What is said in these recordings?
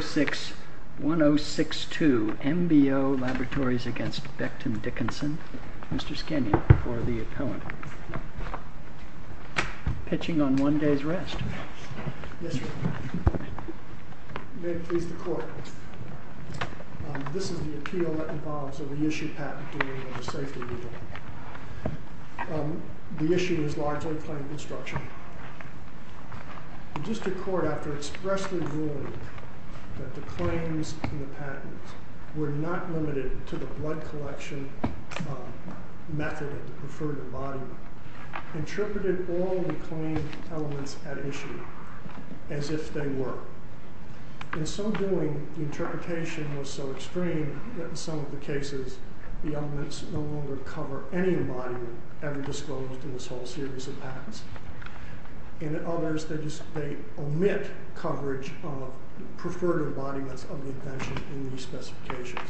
06-1062 MBO Laboratories v. Becton Dickinson May it please the Court, this is the appeal that involves a reissue patent during the safety review. The issue is largely claim construction. The District Court, after expressly ruling that the claims in the patent were not limited to the blood collection method of the preferred embodiment, interpreted all the claimed elements at issue as if they were. In some doing, the interpretation was so extreme that in some of the cases the elements no longer cover any embodiment ever disclosed in this whole series of patents. In others, they omit coverage of preferred embodiments of the invention in these specifications.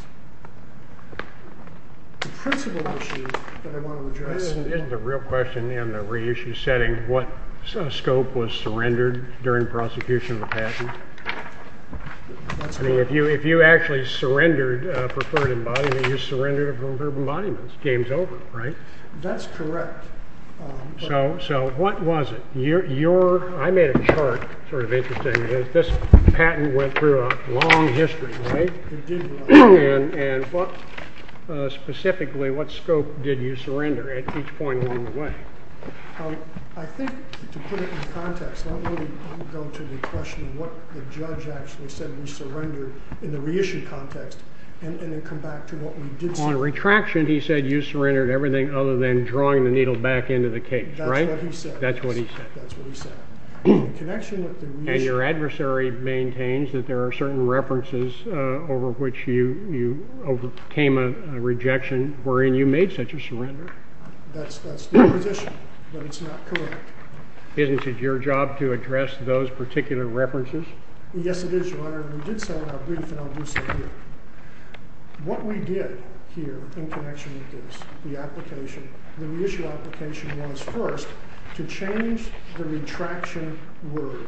The principle issue that I want to address... Isn't the real question in the reissue setting what scope was surrendered during prosecution of the patent? If you actually surrendered a preferred embodiment, you surrendered a preferred embodiment. Game's over, right? That's correct. So what was it? I made a chart, sort of interesting. This patent went through a long history, right? It did, right. And specifically, what scope did you surrender at each point along the way? I think, to put it in context, let me go to the question of what the judge actually said you surrendered in the reissue context, and then come back to what we did see. On retraction, he said you surrendered everything other than drawing the needle back into the case, right? That's what he said. That's what he said. That's what he said. And your adversary maintains that there are certain references over which you overcame a rejection wherein you made such a surrender. That's the position, but it's not correct. Isn't it your job to address those particular references? Yes, it is, Your Honor, and we did set it up briefly, and I'll do so here. What we did here in connection with this, the application, the reissue application was, first, to change the retraction word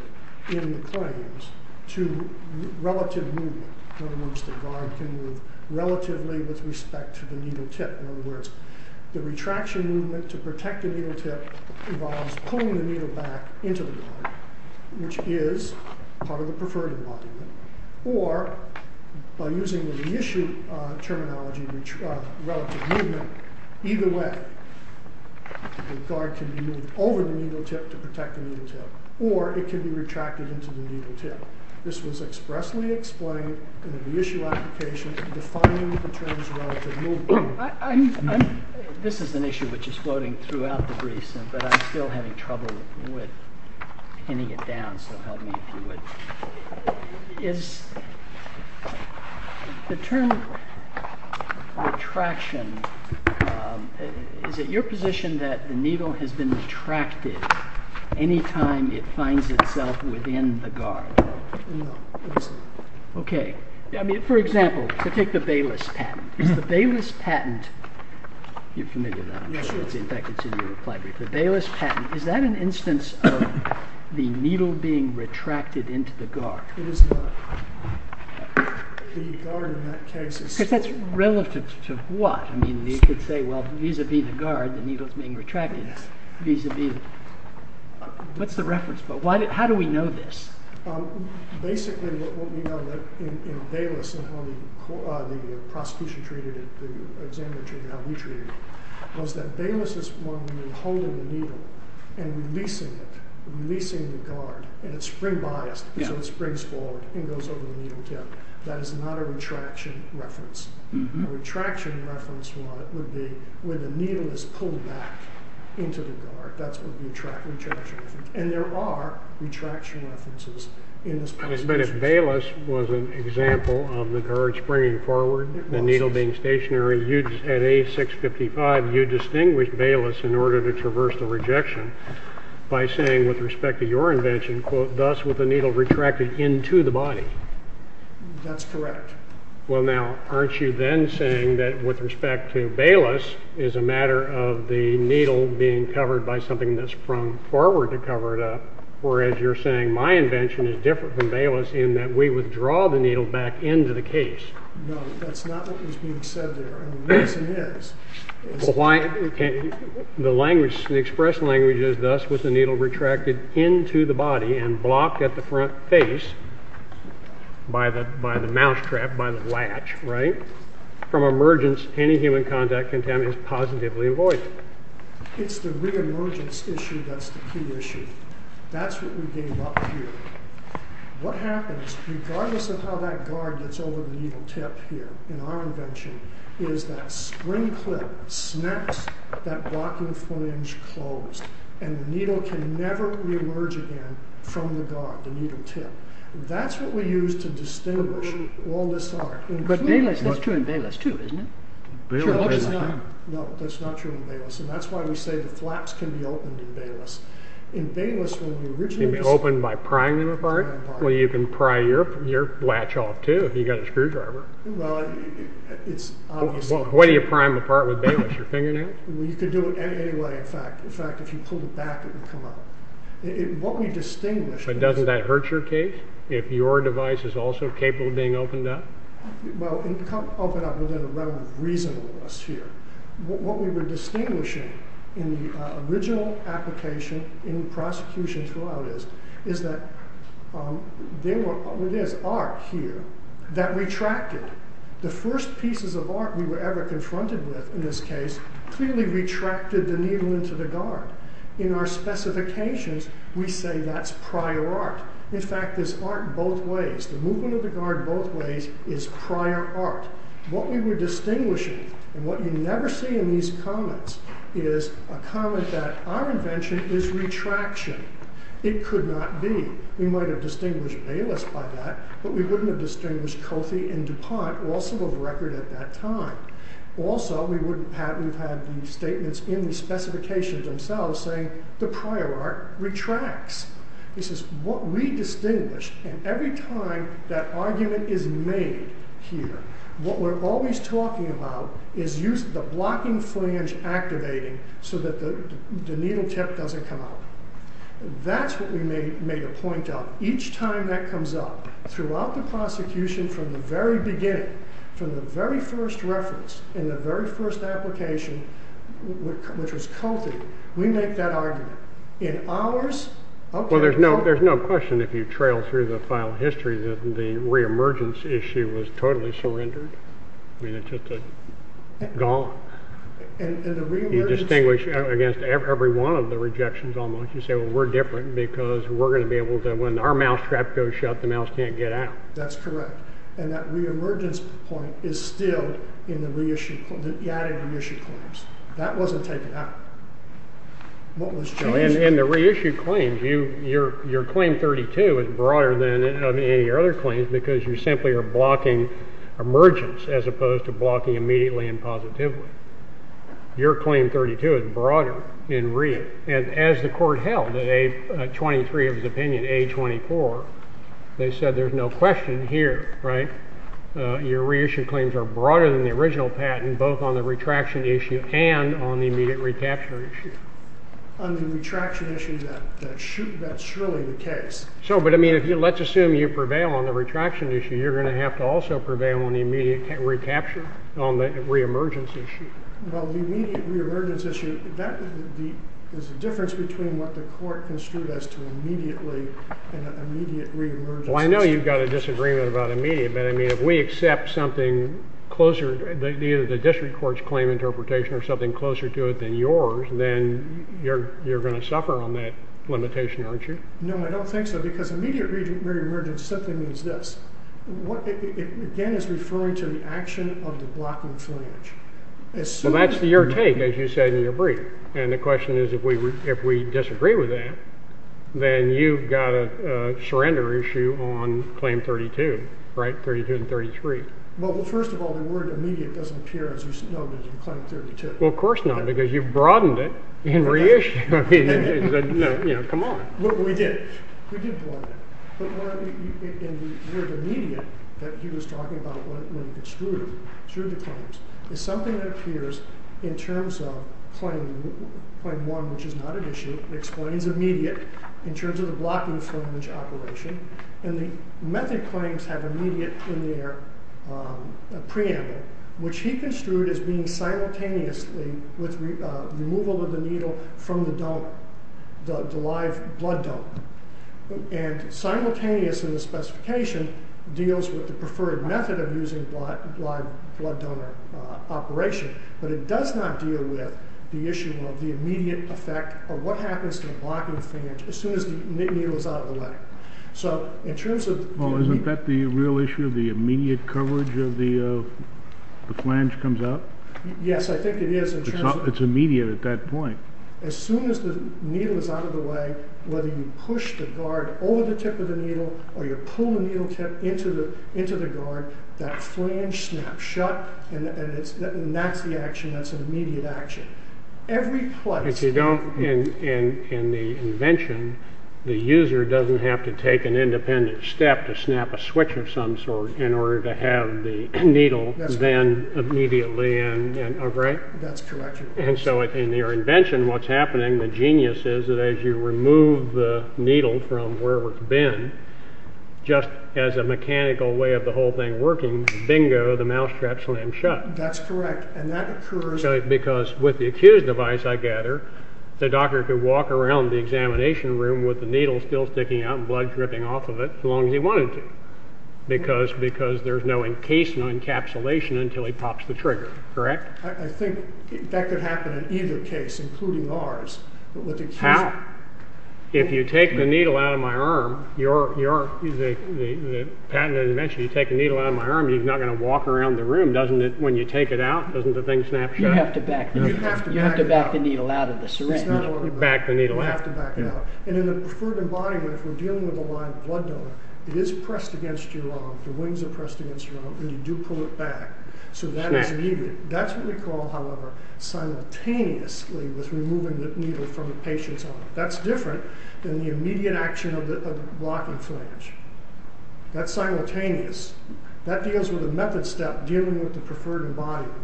in the claims to relative movement. In other words, the guard can move relatively with respect to the needle tip. In other words, the retraction movement to protect the needle tip involves pulling the needle back into the guard, which is part of the preferential argument. Or, by using the reissue terminology, relative movement, either way, the guard can be moved over the needle tip to protect the needle tip, or it can be retracted into the needle tip. This was expressly explained in the reissue application, defining the terms relative movement. This is an issue which is floating throughout the brief, but I'm still having trouble with pinning it down, so help me if you would. The term retraction, is it your position that the needle has been retracted any time it finds itself within the guard? No, it isn't. For example, take the Bayless patent. Is the Bayless patent, is that an instance of the needle being retracted into the guard? It is not. The guard in that case is... Because that's relative to what? You could say, well, vis-a-vis the guard, the needle is being retracted vis-a-vis... What's the reference? How do we know this? Basically, what we know in Bayless and how the prosecution treated it, the examiner treated it, how we treated it, was that Bayless is one where you're holding the needle and releasing it, releasing the guard, and it's spring biased, so it springs forward and goes over the needle tip. That is not a retraction reference. A retraction reference would be where the needle is pulled back into the guard. And there are retraction references in this patent. But if Bayless was an example of the guard springing forward, the needle being stationary, at A655 you distinguish Bayless in order to traverse the rejection by saying, with respect to your invention, thus with the needle retracted into the body. That's correct. Well, now, aren't you then saying that with respect to Bayless, it's a matter of the needle being covered by something that's sprung forward to cover it up, whereas you're saying my invention is different from Bayless in that we withdraw the needle back into the case. No, that's not what was being said there. Yes, it is. The language, the express language is thus with the needle retracted into the body and blocked at the front face by the mousetrap, by the latch, right? From emergence, any human contact contaminant is positively avoided. It's the re-emergence issue that's the key issue. That's what we gave up here. What happens, regardless of how that guard gets over the needle tip here, in our invention, is that spring clip snaps that blocking flange closed, and the needle can never re-emerge again from the guard, the needle tip. That's what we used to distinguish all this art. But Bayless, that's true in Bayless too, isn't it? No, that's not true in Bayless, and that's why we say the flaps can be opened in Bayless. Can they be opened by prying them apart? Well, you can pry your latch off too if you've got a screwdriver. Well, it's obviously... Why do you pry them apart with Bayless, your fingernails? Well, you could do it any way, in fact. In fact, if you pulled it back, it would come out. What we distinguish... But doesn't that hurt your case, if your device is also capable of being opened up? Well, it can't open up within a reasonable sphere. What we were distinguishing in the original application in prosecution throughout is that there is art here that retracted. The first pieces of art we were ever confronted with in this case clearly retracted the needle into the guard. In our specifications, we say that's prior art. In fact, there's art both ways. The movement of the guard both ways is prior art. What we were distinguishing, and what you never see in these comments, is a comment that our invention is retraction. It could not be. We might have distinguished Bayless by that, but we wouldn't have distinguished Coffey and DuPont, also of record at that time. Also, we wouldn't have had the statements in the specifications themselves saying the prior art retracts. This is what we distinguish, and every time that argument is made here, what we're always talking about is the blocking flange activating so that the needle tip doesn't come out. That's what we made a point of. Each time that comes up, throughout the prosecution, from the very beginning, from the very first reference, in the very first application, which was Coffey, we make that argument. Well, there's no question if you trail through the file history that the reemergence issue was totally surrendered. It's just gone. You distinguish against every one of the rejections almost. You say, well, we're different because we're going to be able to, when our mousetrap goes shut, the mouse can't get out. That's correct, and that reemergence point is still in the added reissue claims. That wasn't taken out. What was changed? In the reissue claims, your claim 32 is broader than any of your other claims because you simply are blocking emergence as opposed to blocking immediately and positively. Your claim 32 is broader in read. And as the Court held at A23 of his opinion, A24, they said there's no question here, right? Your reissue claims are broader than the original patent, both on the retraction issue and on the immediate recapture issue. On the retraction issue, that's surely the case. So, but I mean, let's assume you prevail on the retraction issue. You're going to have to also prevail on the immediate recapture, on the reemergence issue. Well, the immediate reemergence issue, there's a difference between what the Court construed as to immediately and an immediate reemergence issue. Well, I know you've got a disagreement about immediate. But, I mean, if we accept something closer, either the district court's claim interpretation or something closer to it than yours, then you're going to suffer on that limitation, aren't you? No, I don't think so because immediate reemergence simply means this. Again, it's referring to the action of the blocking flange. Well, that's your take, as you said in your brief. And the question is, if we disagree with that, then you've got a surrender issue on Claim 32, right? 32 and 33. Well, first of all, the word immediate doesn't appear, as you know, in Claim 32. Well, of course not, because you've broadened it in reissue. I mean, come on. Well, we did. We did broaden it. But the word immediate that he was talking about when extruded through the claims is something that appears in terms of Claim 1, which is not an issue. It explains immediate in terms of the blocking flange operation. And the method claims have immediate in their preamble, which he construed as being simultaneously with removal of the needle from the live blood dump. And simultaneous in the specification deals with the preferred method of using live blood donor operation. But it does not deal with the issue of the immediate effect or what happens to the blocking flange as soon as the needle is out of the way. So in terms of the needle. Well, isn't that the real issue, the immediate coverage of the flange comes out? Yes, I think it is. It's immediate at that point. As soon as the needle is out of the way, whether you push the guard over the tip of the needle or you pull the needle tip into the guard, that flange snaps shut. And that's the action. That's an immediate action. Every place. If you don't, in the invention, the user doesn't have to take an independent step to snap a switch of some sort in order to have the needle then immediately in, right? That's correct. And so in your invention, what's happening, the genius is that as you remove the needle from wherever it's been, just as a mechanical way of the whole thing working, bingo, the mousetrap slams shut. That's correct. And that occurs. Because with the accused device, I gather, the doctor could walk around the examination room with the needle still sticking out and blood dripping off of it as long as he wanted to. Because there's no encasement encapsulation until he pops the trigger, correct? Correct. I think that could happen in either case, including ours. How? If you take the needle out of my arm, your patented invention, you take the needle out of my arm, you're not going to walk around the room, doesn't it, when you take it out, doesn't the thing snap shut? You have to back the needle out of the syringe. Back the needle out. You have to back it out. And in the preferred embodiment, if we're dealing with a live blood donor, it is pressed against your arm, the wings are pressed against your arm, and you do pull it back. So that is needed. That's what we call, however, simultaneously with removing the needle from the patient's arm. That's different than the immediate action of the blocking flange. That's simultaneous. That deals with a method step dealing with the preferred embodiment,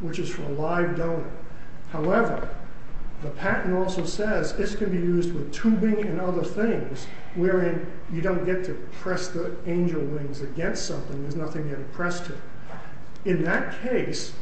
which is for a live donor. However, the patent also says this can be used with tubing and other things, wherein you don't get to press the angel wings against something. There's nothing you have to press to. In that case,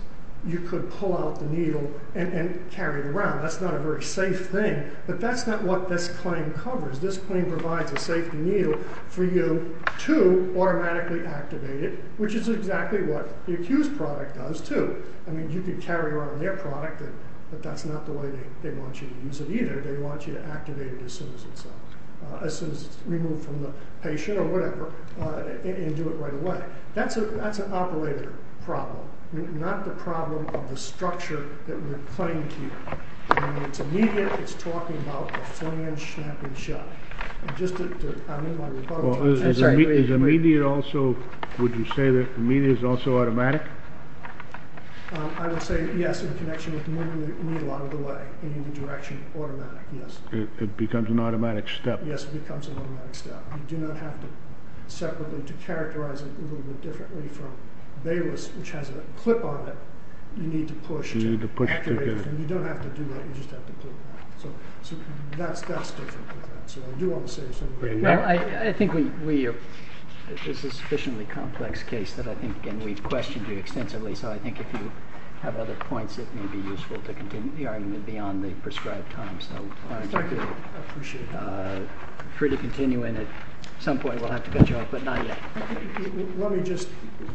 you could pull out the needle and carry it around. That's not a very safe thing. But that's not what this claim covers. This claim provides a safety needle for you to automatically activate it, which is exactly what the accused product does, too. I mean, you could carry around their product, but that's not the way they want you to use it, either. They want you to activate it as soon as it's removed from the patient or whatever, and do it right away. That's an operator problem, not the problem of the structure that we're claiming here. I mean, it's immediate. It's talking about the flange snapping shut. I'm in my rebuttal. Would you say that immediate is also automatic? I would say yes, in connection with moving the needle out of the way, in the direction of automatic, yes. It becomes an automatic step. Yes, it becomes an automatic step. You do not have to separate them. To characterize it a little bit differently from Bayless, which has a clip on it, you need to push to activate it. You don't have to do that. You just have to click that. So that's different. I do want to say something. I think this is a sufficiently complex case, and we've questioned you extensively, so I think if you have other points, it may be useful to continue the argument beyond the prescribed time. Exactly. I appreciate that. Feel free to continue, and at some point we'll have to cut you off, but not yet. Let me just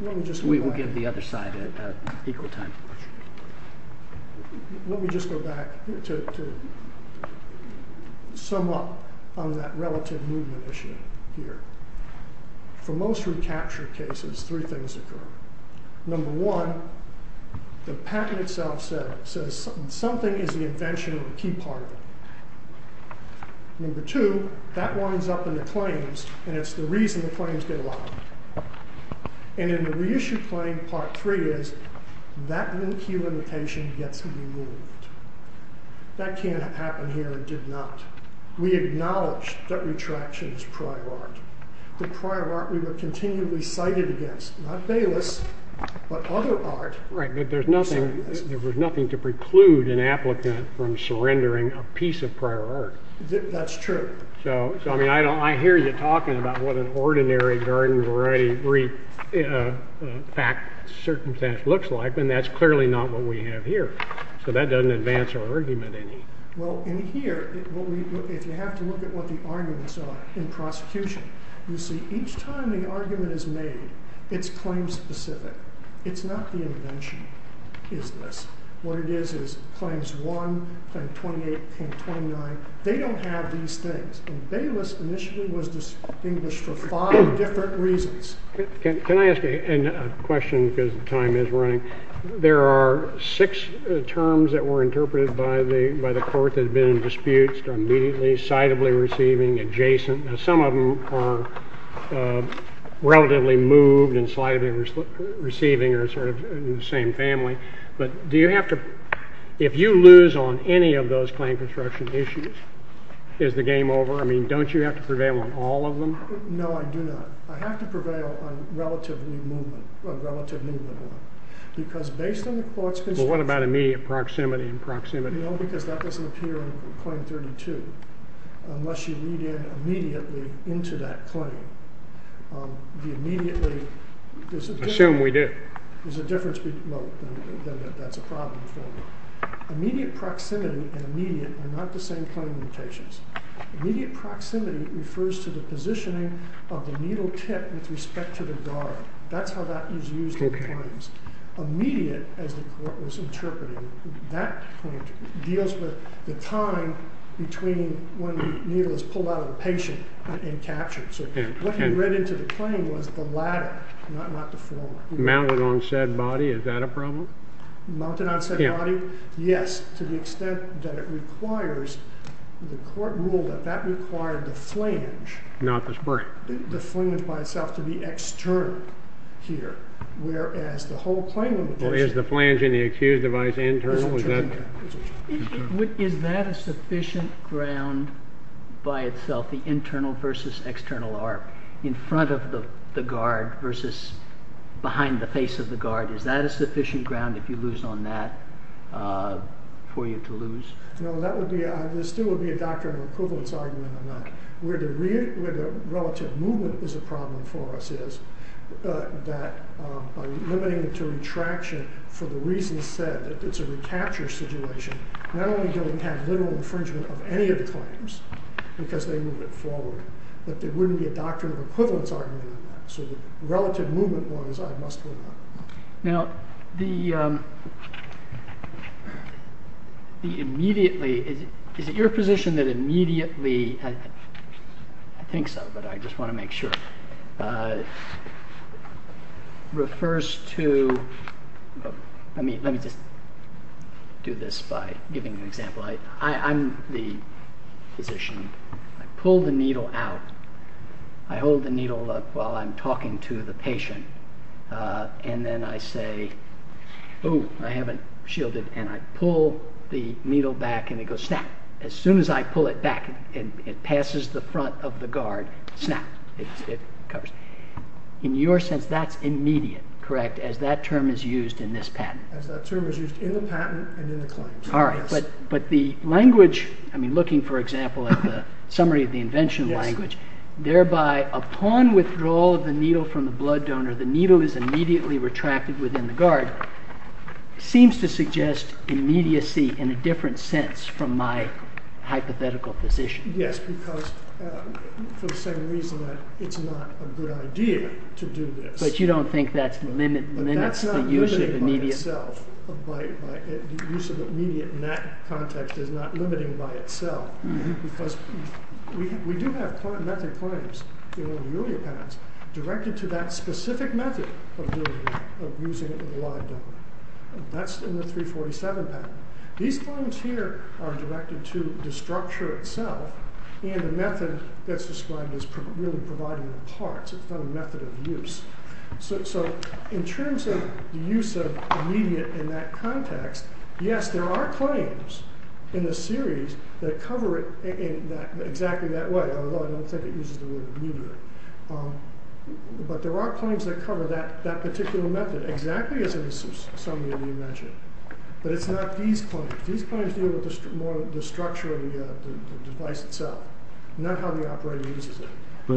go back. We will give the other side equal time. Let me just go back to sum up on that relative movement issue here. For most recapture cases, three things occur. Number one, the patent itself says something is the invention or the key part of it. Number two, that winds up in the claims, and it's the reason the claims get locked. And in the reissue claim, part three is that key limitation gets removed. That can't have happened here and did not. We acknowledge that retraction is prior art. The prior art we were continually cited against. Not Bayless, but other art. Right, but there's nothing to preclude an applicant from surrendering a piece of prior art. That's true. So, I mean, I hear you talking about what an ordinary garden variety fact circumstance looks like, and that's clearly not what we have here. So that doesn't advance our argument any. Well, in here, if you have to look at what the arguments are in prosecution, you see each time the argument is made, it's claim-specific. It's not the invention is this. What it is is claims one, claim 28, claim 29. They don't have these things. And Bayless initially was distinguished for five different reasons. Can I ask a question because time is running? There are six terms that were interpreted by the court that have been in disputes, immediately, sightably receiving, adjacent. Now, some of them are relatively moved and sightably receiving or sort of in the same family. But do you have to, if you lose on any of those claim construction issues, is the game over? I mean, don't you have to prevail on all of them? No, I do not. I have to prevail on relative new movement, relative new movement. Because based on the court's constituents. Well, what about immediate proximity and proximity? No, because that doesn't appear in claim 32 unless you read in immediately into that claim. The immediately, there's a difference. Assume we do. There's a difference between, well, that's a problem. Immediate proximity and immediate are not the same claim limitations. Immediate proximity refers to the positioning of the needle tip with respect to the guard. That's how that is used in claims. Immediate, as the court was interpreting, that point deals with the time between when the needle is pulled out of the patient and captured. So what he read into the claim was the latter, not the former. Mounted on said body, is that a problem? Mounted on said body? Yes, to the extent that it requires, the court ruled that that required the flange. Not the spring. The flange by itself to be external here, whereas the whole claim limitation. Well, is the flange in the accused device internal? Is that a sufficient ground by itself? The internal versus external arc in front of the guard versus behind the face of the guard. Is that a sufficient ground if you lose on that for you to lose? No, that would be, there still would be a doctrine of equivalence argument on that. Where the relative movement is a problem for us is that by limiting it to retraction for the reasons said, it's a recapture situation. Not only do we have literal infringement of any of the claims, because they move it forward, but there wouldn't be a doctrine of equivalence argument on that. So the relative movement was, I must hold on. Now, the immediately, is it your position that immediately, I think so, but I just want to make sure, refers to, let me just do this by giving an example. I'm the physician, I pull the needle out, I hold the needle up while I'm talking to the patient, and then I say, oh, I haven't shielded, and I pull the needle back and it goes snap. As soon as I pull it back, it passes the front of the guard, snap, it covers. In your sense, that's immediate, correct, as that term is used in this patent? As that term is used in the patent and in the claims. All right, but the language, I mean looking for example at the summary of the invention language, thereby upon withdrawal of the needle from the blood donor, the needle is immediately retracted within the guard, seems to suggest immediacy in a different sense from my hypothetical position. Yes, because for the same reason that it's not a good idea to do this. But you don't think that limits the use of immediate? But that's not limited by itself, the use of immediate in that context is not limited by itself. Because we do have method claims in all the earlier patents directed to that specific method of using it in the blood donor. That's in the 347 patent. These claims here are directed to the structure itself and the method that's described as really providing the parts. It's not a method of use. So in terms of the use of immediate in that context, yes there are claims in the series that cover it exactly that way. Although I don't think it uses the word immediate. But there are claims that cover that particular method exactly as in the summary of the invention. But it's not these claims. These claims deal with the structure of the device itself, not how the operator uses it. Go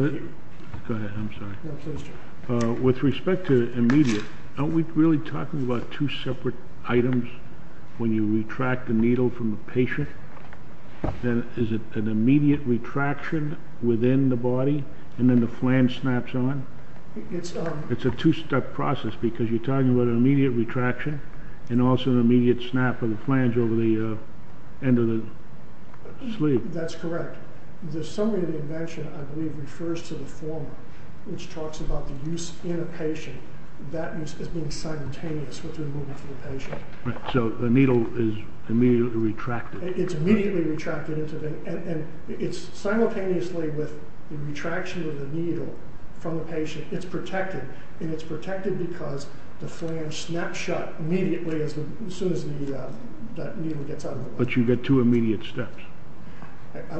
ahead, I'm sorry. With respect to immediate, aren't we really talking about two separate items when you retract the needle from the patient? Is it an immediate retraction within the body and then the flange snaps on? It's a two-step process because you're talking about an immediate retraction and also an immediate snap of the flange over the end of the sleeve. That's correct. The summary of the invention, I believe, refers to the former, which talks about the use in a patient, that use as being simultaneous with the removal from the patient. So the needle is immediately retracted. It's immediately retracted. And it's simultaneously with the retraction of the needle from the patient, it's protected. And it's protected because the flange snaps shut immediately as soon as the needle gets out of the body. But you get two immediate steps.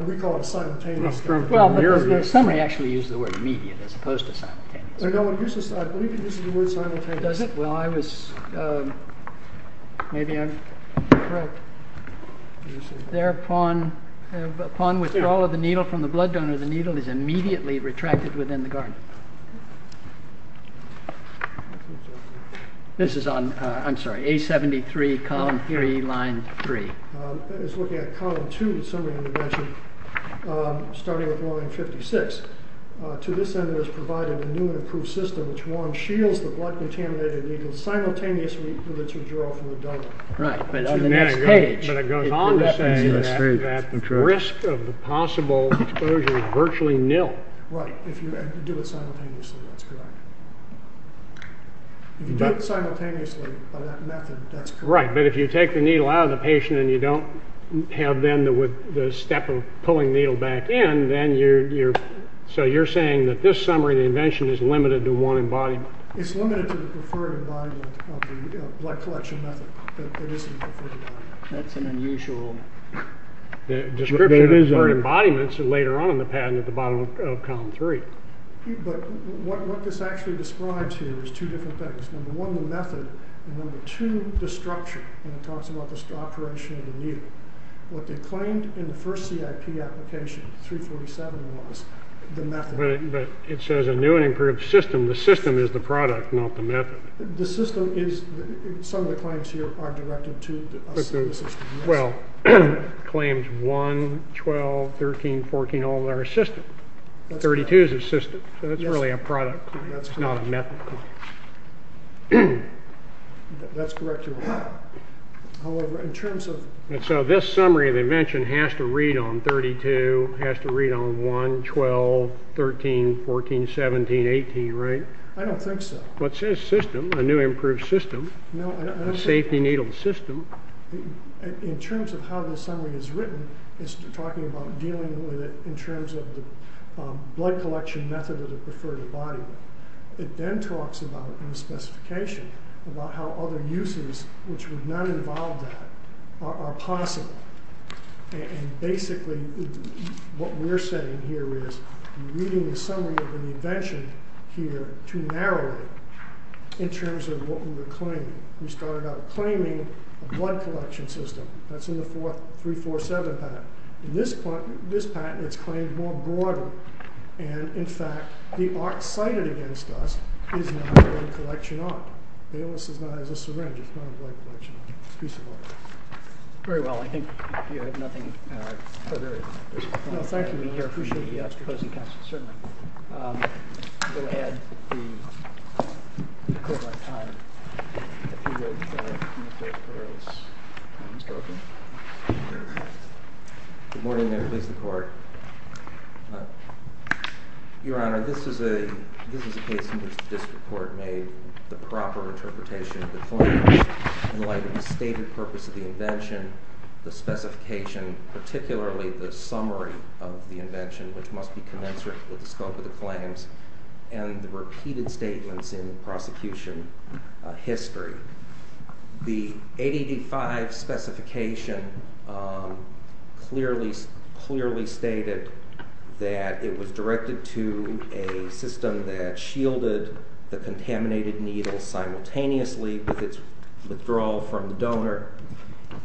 We call it a simultaneous step. The summary actually uses the word immediate as opposed to simultaneous. I believe it uses the word simultaneous. Does it? Well, I was, maybe I'm correct. Thereupon withdrawal of the needle from the blood donor, the needle is immediately retracted within the garment. This is on, I'm sorry, A73 column 3, line 3. It's looking at column 2, the summary of the invention, starting with line 56. To this end, it has provided a new and improved system, which one, shields the blood-contaminated needle simultaneously with its withdrawal from the donor. Right. But on the next page. But it goes on to say that risk of the possible exposure is virtually nil. Right. If you do it simultaneously, that's correct. If you do it simultaneously by that method, that's correct. Right. But if you take the needle out of the patient and you don't have then the step of pulling the needle back in, then you're, so you're saying that this summary of the invention is limited to one embodiment. It's limited to the preferred embodiment of the blood collection method, but it isn't the preferred embodiment. That's an unusual description. The preferred embodiments are later on in the pattern at the bottom of column 3. But what this actually describes here is two different things. Number one, the method. And number two, the structure. And it talks about the operation of the needle. What they claimed in the first CIP application, 347 was, the method. But it says a new and improved system. The system is the product, not the method. The system is, some of the claims here are directed to the system. Well, claims 1, 12, 13, 14, all of that are system. 32 is a system. So that's really a product claim. It's not a method claim. That's correct, Your Honor. However, in terms of. And so this summary of invention has to read on 32, has to read on 1, 12, 13, 14, 17, 18, right? I don't think so. But it says system, a new and improved system. No, I don't think. A safety needle system. In terms of how this summary is written, it's talking about dealing with it in terms of the blood collection method of the preferred body. It then talks about, in the specification, about how other uses, which would not involve that, are possible. And basically, what we're saying here is, we're reading the summary of an invention here to narrow it in terms of what we were claiming. We started out claiming a blood collection system. That's in the 347 patent. In this patent, it's claimed more broadly. And, in fact, the art cited against us is not a blood collection art. Bayless is not a syringe. It's not a blood collection art. It's a piece of art. Very well. I think you have nothing. No, there is. No, thank you. I appreciate you asking. Certainly. I'm going to add the equivalent time. If you would. Good morning there. Please, the Court. Your Honor, this is a case in which the district court made the proper interpretation of the claim in light of the stated purpose of the invention, the specification, particularly the summary of the invention, which must be commensurate with the scope of the claims, and the repeated statements in prosecution history. The ADD-5 specification clearly stated that it was directed to a system that shielded the contaminated needle simultaneously with its withdrawal from the donor,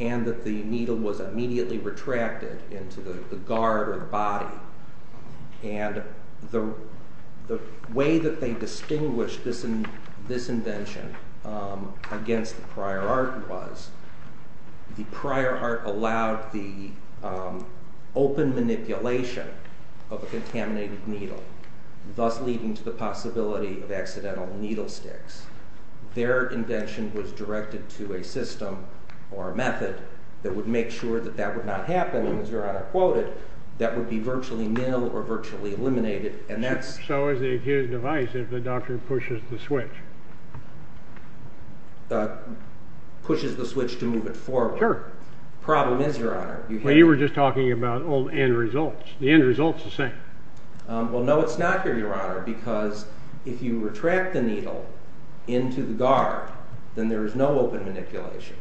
and that the needle was immediately retracted into the guard or the body. And the way that they distinguished this invention against the prior art was the prior art allowed the open manipulation of the contaminated needle, thus leading to the possibility of accidental needle sticks. Their invention was directed to a system or a method that would make sure that that would not happen. And as Your Honor quoted, that would be virtually nil or virtually eliminated. So is the accused device if the doctor pushes the switch? Pushes the switch to move it forward. Sure. Problem is, Your Honor. Well, you were just talking about old end results. The end result's the same. Well, no, it's not here, Your Honor, because if you retract the needle into the guard, then there is no open manipulation.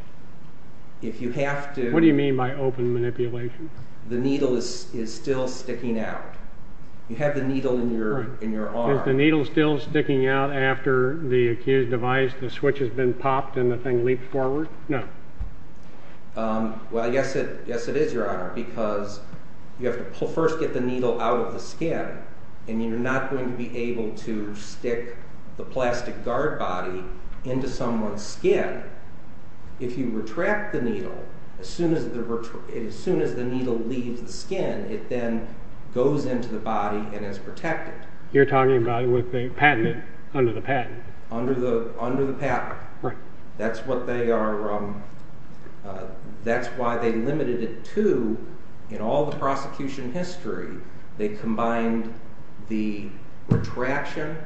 If you have to... What do you mean by open manipulation? The needle is still sticking out. You have the needle in your arm. Is the needle still sticking out after the accused device, the switch has been popped, and the thing leaped forward? No. Well, yes, it is, Your Honor, because you have to first get the needle out of the skin, and you're not going to be able to stick the plastic guard body into someone's skin. If you retract the needle, as soon as the needle leaves the skin, it then goes into the body and is protected. You're talking about under the patent. Under the patent. That's why they limited it to, in all the prosecution history, they combined the retraction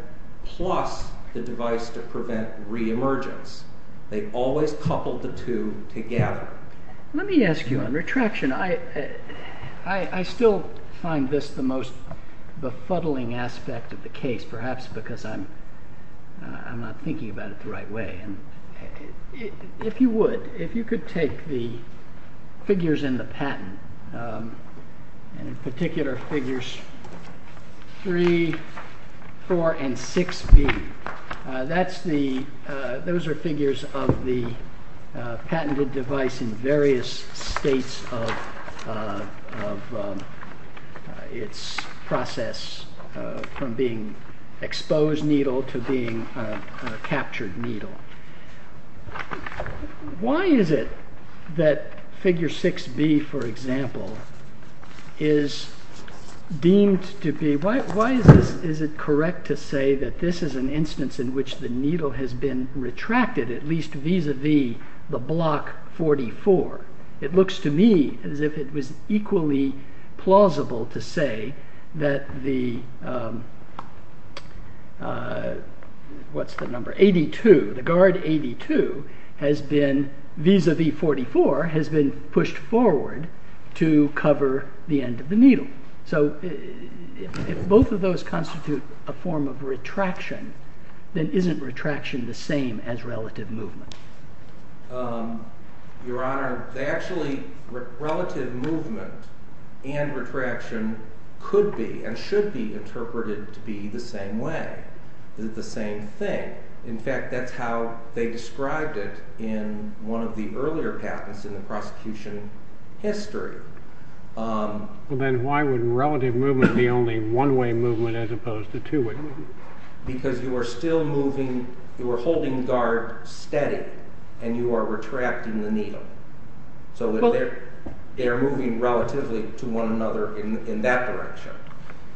plus the device to prevent reemergence. They always coupled the two together. Let me ask you, on retraction, I still find this the most befuddling aspect of the case, perhaps because I'm not thinking about it the right way. If you would, if you could take the figures in the patent, in particular figures 3, 4, and 6B, those are figures of the patented device in various states of its process from being exposed needle to being a captured needle. Why is it that figure 6B, for example, is deemed to be, why is it correct to say that this is an instance in which the needle has been retracted, at least vis-a-vis the block 44? It looks to me as if it was equally plausible to say that the, what's the number, 82, the guard 82 has been, vis-a-vis 44, has been pushed forward to cover the end of the needle. So if both of those constitute a form of retraction, then isn't retraction the same as relative movement? Your Honor, they actually, relative movement and retraction could be and should be interpreted to be the same way, the same thing. In fact, that's how they described it in one of the earlier patents in the prosecution history. Then why would relative movement be only one-way movement as opposed to two-way movement? Because you are still moving, you are holding the guard steady and you are retracting the needle. So they're moving relatively to one another in that direction.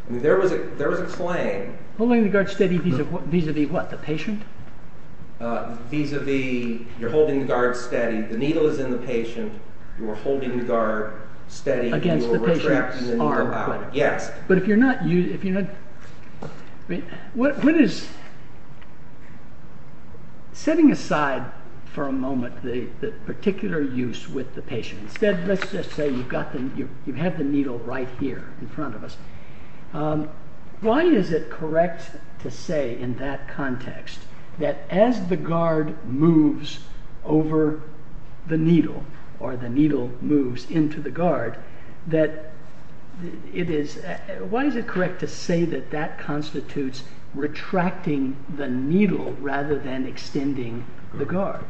I mean, there was a claim… Holding the guard steady vis-a-vis what, the patient? Vis-a-vis you're holding the guard steady, the needle is in the patient, you are holding the guard steady… Against the patient's arm. Yes. But if you're not… What is… Setting aside for a moment the particular use with the patient, instead let's just say you have the needle right here in front of us. Why is it correct to say in that context that as the guard moves over the needle or the needle moves into the guard, that it is, why is it correct to say that that constitutes retracting the needle rather than extending the guard?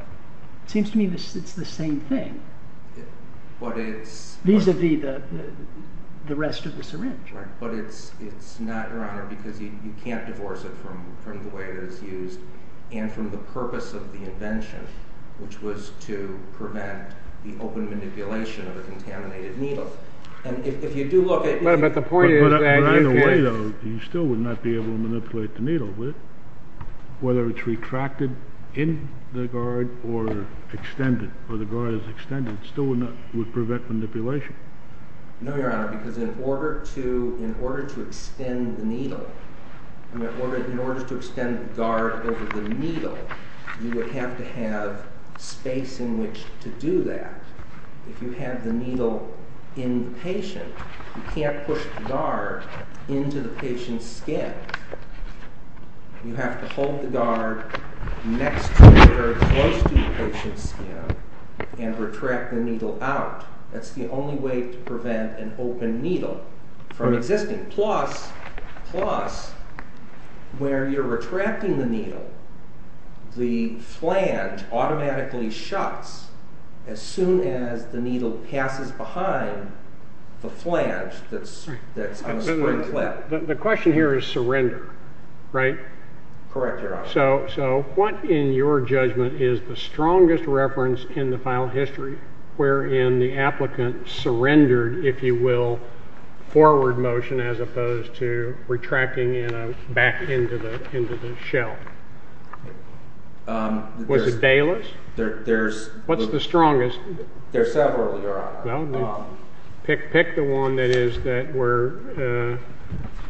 It seems to me it's the same thing. But it's… Vis-a-vis the rest of the syringe. Right, but it's not, Your Honor, because you can't divorce it from the way it is used and from the purpose of the invention, which was to prevent the open manipulation of the contaminated needle. And if you do look at… But the point is that… But either way though, you still would not be able to manipulate the needle, would it? Whether it's retracted in the guard or extended, or the guard is extended, it still would not, would prevent manipulation. No, Your Honor, because in order to, in order to extend the needle, in order to extend the guard over the needle, you would have to have space in which to do that. If you have the needle in the patient, you can't push the guard into the patient's skin. You have to hold the guard next to or close to the patient's skin and retract the needle out. That's the only way to prevent an open needle from existing. Plus, where you're retracting the needle, the flange automatically shuts as soon as the needle passes behind the flange that's on a spring clip. The question here is surrender, right? Correct, Your Honor. So what, in your judgment, is the strongest reference in the file history wherein the applicant surrendered, if you will, forward motion as opposed to retracting back into the shell? Was it Bayless? There's… What's the strongest? There's several, Your Honor. Well, pick the one that is that where,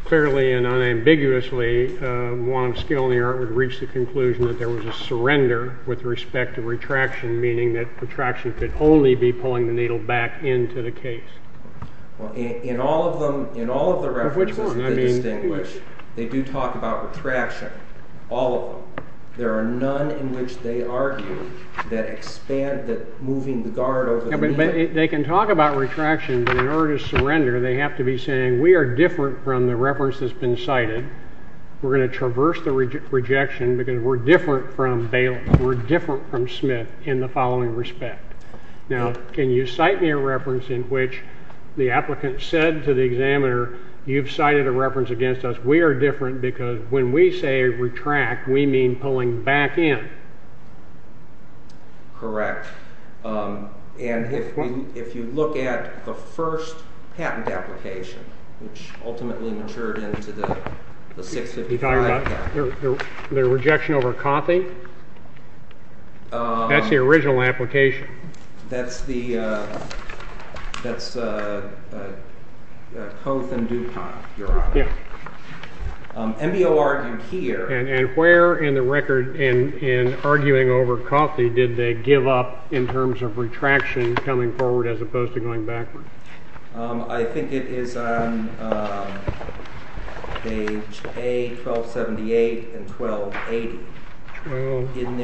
clearly and unambiguously, one of skill in the art would reach the conclusion that there was a surrender with respect to retraction, meaning that retraction could only be pulling the needle back into the case. In all of them, in all of the references that distinguish, they do talk about retraction, all of them. There are none in which they argue that expand, that moving the guard over the needle… They can talk about retraction, but in order to surrender, they have to be saying, we are different from the reference that's been cited. We're going to traverse the rejection because we're different from Smith in the following respect. Now, can you cite me a reference in which the applicant said to the examiner, you've cited a reference against us. We are different because when we say retract, we mean pulling back in. Correct. And if you look at the first patent application, which ultimately matured into the 655… You're talking about the rejection over Cothy? That's the original application. That's the Coth and Dupont, Your Honor. Yes. And where in the record in arguing over Cothy did they give up in terms of retraction coming forward as opposed to going backward? I think it is on page A, 1278 and 1280. In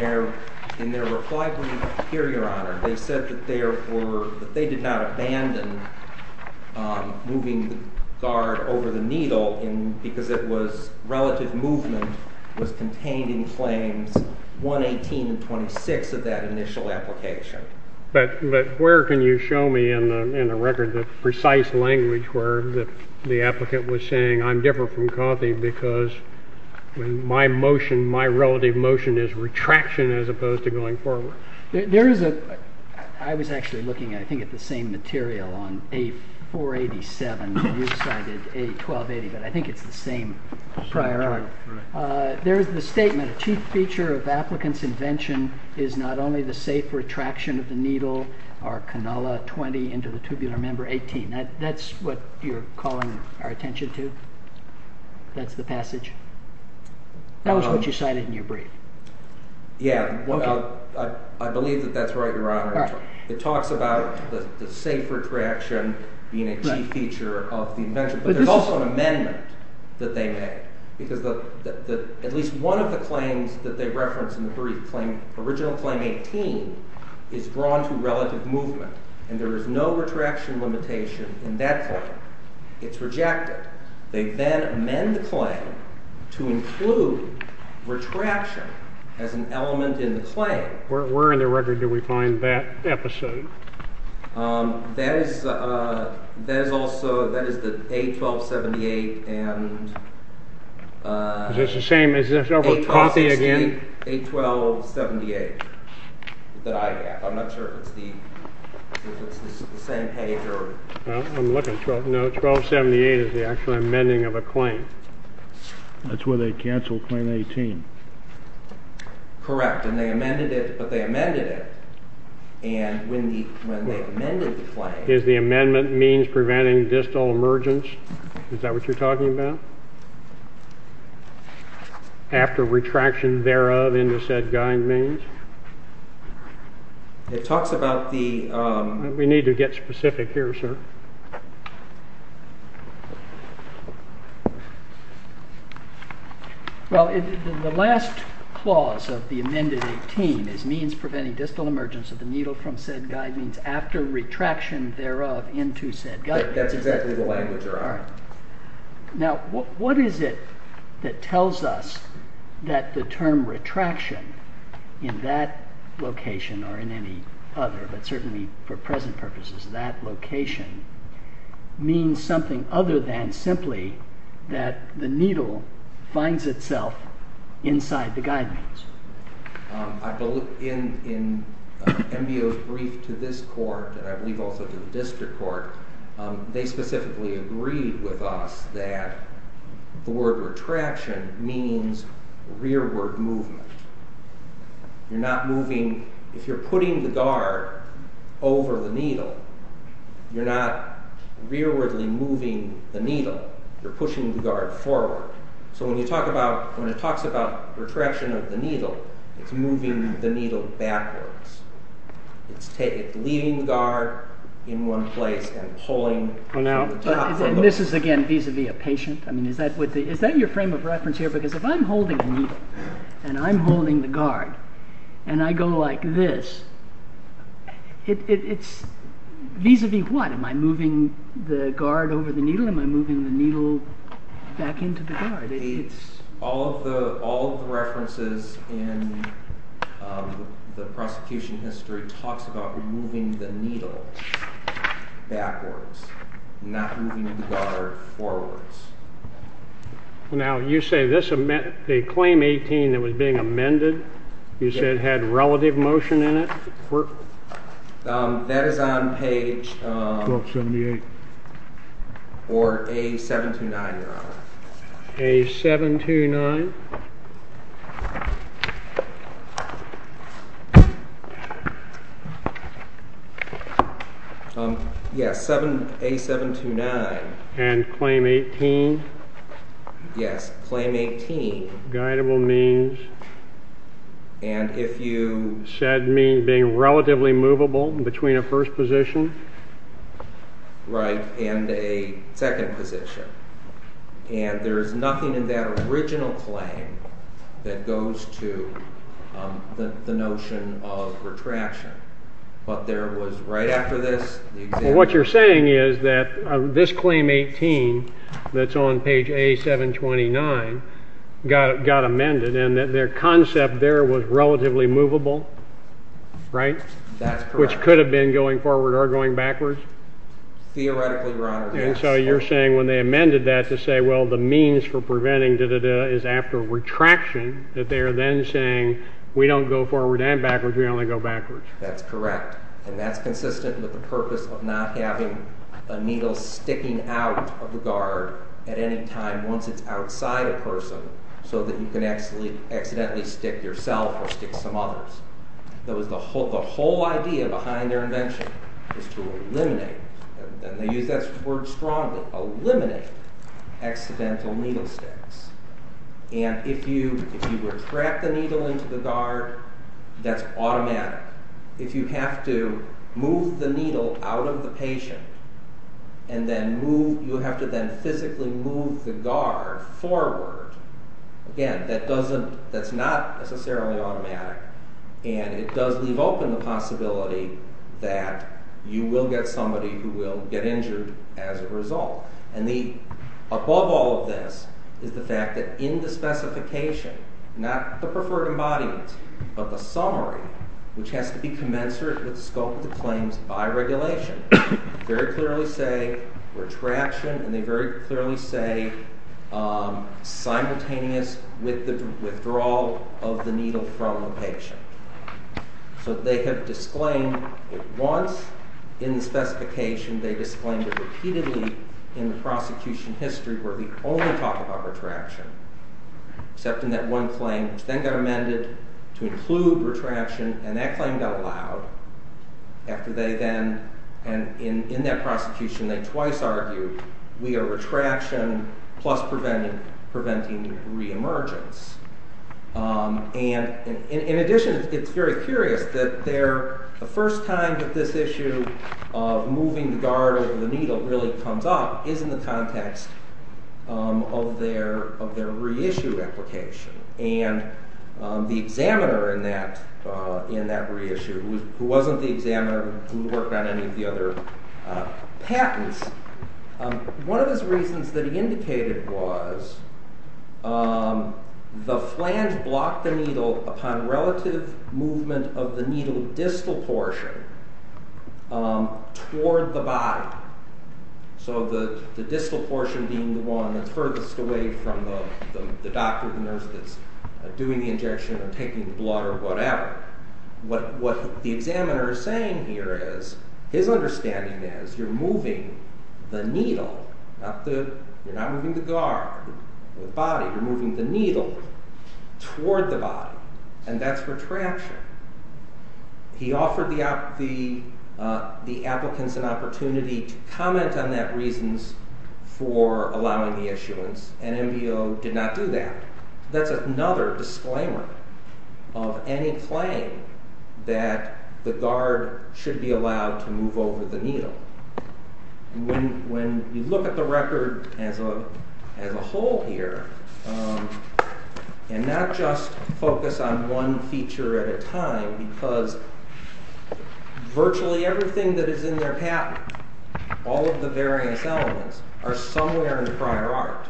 their reply to me here, Your Honor, they said that they did not abandon moving the guard over the needle because relative movement was contained in claims 118 and 26 of that initial application. But where can you show me in the record the precise language where the applicant was saying, I'm different from Cothy because my relative motion is retraction as opposed to going forward? There is a – I was actually looking, I think, at the same material on A487 when you cited A1280, but I think it's the same prior article. There is the statement, a chief feature of applicant's invention is not only the safe retraction of the needle or canola 20 into the tubular member 18. That's what you're calling our attention to? That's the passage? That was what you cited in your brief. Yeah, I believe that that's right, Your Honor. It talks about the safe retraction being a key feature of the invention, but there's also an amendment that they made because at least one of the claims that they referenced in the brief, original claim 18, is drawn to relative movement, and there is no retraction limitation in that claim. It's rejected. They then amend the claim to include retraction as an element in the claim. Where in the record do we find that episode? That is also – that is the A1278 and – Is this the same – is this over Cothy again? A1278 that I have. I'm not sure if it's the same page or – I'm looking – no, A1278 is the actual amending of a claim. That's where they canceled claim 18. Correct, and they amended it, but they amended it, and when they amended the claim – Is the amendment means preventing distal emergence? Is that what you're talking about? After retraction thereof in the said guide means? It talks about the – We need to get specific here, sir. Well, the last clause of the amended 18 is means preventing distal emergence of the needle from said guide means after retraction thereof into said guide. That's exactly the language thereof. Now, what is it that tells us that the term retraction in that location or in any other, but certainly for present purposes that location, means something other than simply that the needle finds itself inside the guide means? In MBO's brief to this court, and I believe also to the district court, they specifically agreed with us that the word retraction means rearward movement. You're not moving – if you're putting the guard over the needle, you're not rearwardly moving the needle. You're pushing the guard forward. So when you talk about – when it talks about retraction of the needle, it's moving the needle backwards. It's leaving the guard in one place and pulling from the top. And this is, again, vis-a-vis a patient? I mean, is that your frame of reference here? Because if I'm holding the needle and I'm holding the guard and I go like this, it's vis-a-vis what? Am I moving the guard over the needle? Am I moving the needle back into the guard? It's – all of the references in the prosecution history talks about moving the needle backwards, not moving the guard forwards. Now, you say this – a claim 18 that was being amended, you said had relative motion in it? That is on page – 1278. Or A729, Your Honor. A729? Yes, A729. And claim 18? Yes, claim 18. Guidable means? And if you said being relatively movable between a first position? Right, and a second position. And there is nothing in that original claim that goes to the notion of retraction. But there was, right after this, the example – This claim 18 that's on page A729 got amended and their concept there was relatively movable, right? That's correct. Which could have been going forward or going backwards? Theoretically, Your Honor. And so you're saying when they amended that to say, well, the means for preventing da-da-da is after retraction, that they are then saying we don't go forward and backwards, we only go backwards. That's correct. And that's consistent with the purpose of not having a needle sticking out of the guard at any time once it's outside a person so that you can accidentally stick yourself or stick some others. The whole idea behind their invention is to eliminate – and they use that word strongly – eliminate accidental needle sticks. And if you retract the needle into the guard, that's automatic. If you have to move the needle out of the patient and then move – you have to then physically move the guard forward, again, that doesn't – that's not necessarily automatic. And it does leave open the possibility that you will get somebody who will get injured as a result. And the – above all of this is the fact that in the specification, not the preferred embodiment, but the summary, which has to be commensurate with the scope of the claims by regulation, very clearly say retraction and they very clearly say simultaneous with the withdrawal of the needle from the patient. So they have disclaimed it once. In the specification, they disclaimed it repeatedly in the prosecution history where we only talk about retraction, except in that one claim, which then got amended to include retraction, and that claim got allowed after they then – and in that prosecution, they twice argued we are retraction plus preventing re-emergence. And in addition, it's very curious that the first time that this issue of moving the guard over the needle really comes up is in the context of their reissue application. And the examiner in that reissue, who wasn't the examiner who worked on any of the other patents, one of the reasons that he indicated was the flange blocked the needle upon relative movement of the needle distal portion toward the body, so the distal portion being the one that's furthest away from the doctor, the nurse that's doing the injection or taking the blood or whatever. What the examiner is saying here is, his understanding is you're moving the needle, you're not moving the guard or the body, you're moving the needle toward the body, and that's retraction. He offered the applicants an opportunity to comment on that reasons for allowing the issuance, and NBO did not do that. That's another disclaimer of any flange that the guard should be allowed to move over the needle. When you look at the record as a whole here, and not just focus on one feature at a time, because virtually everything that is in their patent, all of the various elements, are somewhere in the prior art.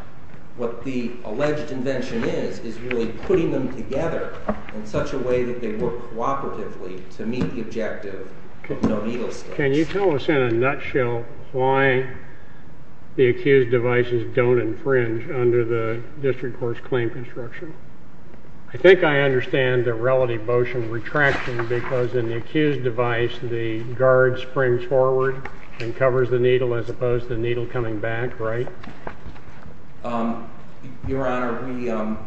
What the alleged invention is, is really putting them together in such a way that they work cooperatively to meet the objective. Can you tell us in a nutshell why the accused devices don't infringe under the district court's claim construction? I think I understand the relative motion retraction because in the accused device the guard springs forward and covers the needle as opposed to the needle coming back, right? Your Honor,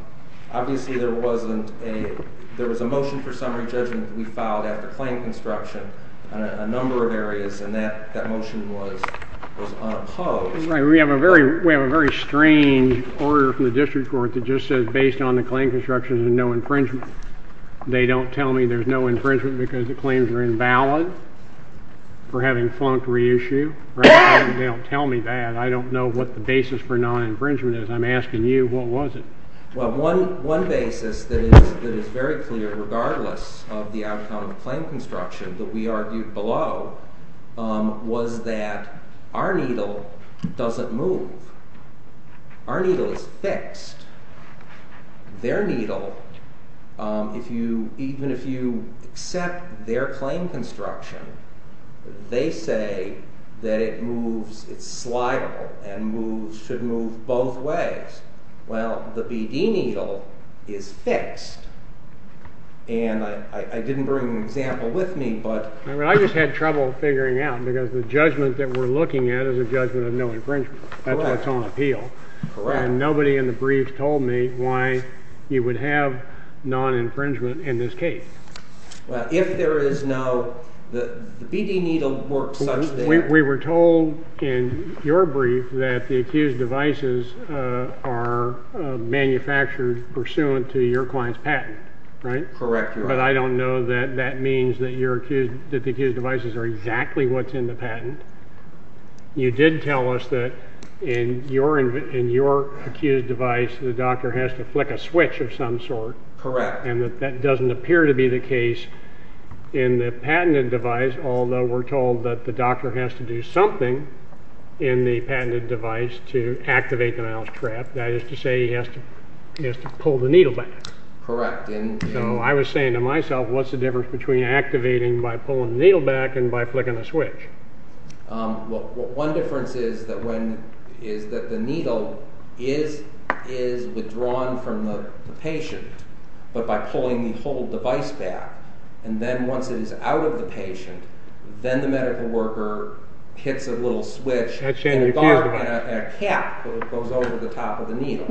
obviously there was a motion for summary judgment that we filed after claim construction in a number of areas, and that motion was unopposed. We have a very strange order from the district court that just says based on the claim construction there's no infringement. They don't tell me there's no infringement because the claims are invalid for having flunked reissue. They don't tell me that. I don't know what the basis for non-infringement is. I'm asking you, what was it? Well, one basis that is very clear regardless of the outcome of the claim construction that we argued below was that our needle doesn't move. Our needle is fixed. Their needle, even if you accept their claim construction, they say that it's slidable and should move both ways. Well, the BD needle is fixed, and I didn't bring an example with me, but... I just had trouble figuring out because the judgment that we're looking at is a judgment of no infringement. That's what's on appeal. Correct. And nobody in the briefs told me why you would have non-infringement in this case. Well, if there is no... the BD needle works such that... We were told in your brief that the accused devices are manufactured pursuant to your client's patent, right? Correct. But I don't know that that means that the accused devices are exactly what's in the patent. You did tell us that in your accused device the doctor has to flick a switch of some sort. Correct. And that that doesn't appear to be the case in the patented device, although we're told that the doctor has to do something in the patented device to activate the mouse trap. That is to say he has to pull the needle back. Correct. So I was saying to myself, what's the difference between activating by pulling the needle back and by flicking a switch? One difference is that the needle is withdrawn from the patient, but by pulling the whole device back. And then once it is out of the patient, then the medical worker hits a little switch and a cap goes over the top of the needle.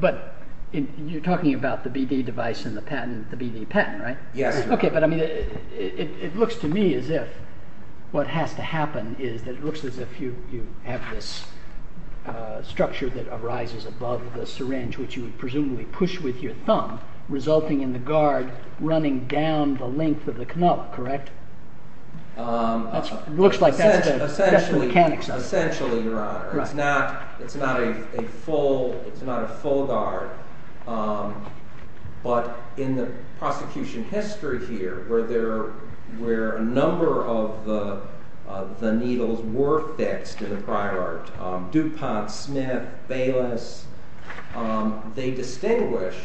But you're talking about the BD device and the BD patent, right? Yes. Okay. But I mean, it looks to me as if what has to happen is that it looks as if you have this structure that arises above the syringe, which you would presumably push with your thumb, resulting in the guard running down the length of the canal. Correct? It looks like that's the mechanics of it. Essentially, Your Honor, it's not a full guard. But in the prosecution history here, where a number of the needles were fixed in the prior art, DuPont, Smith, Bayless, they distinguished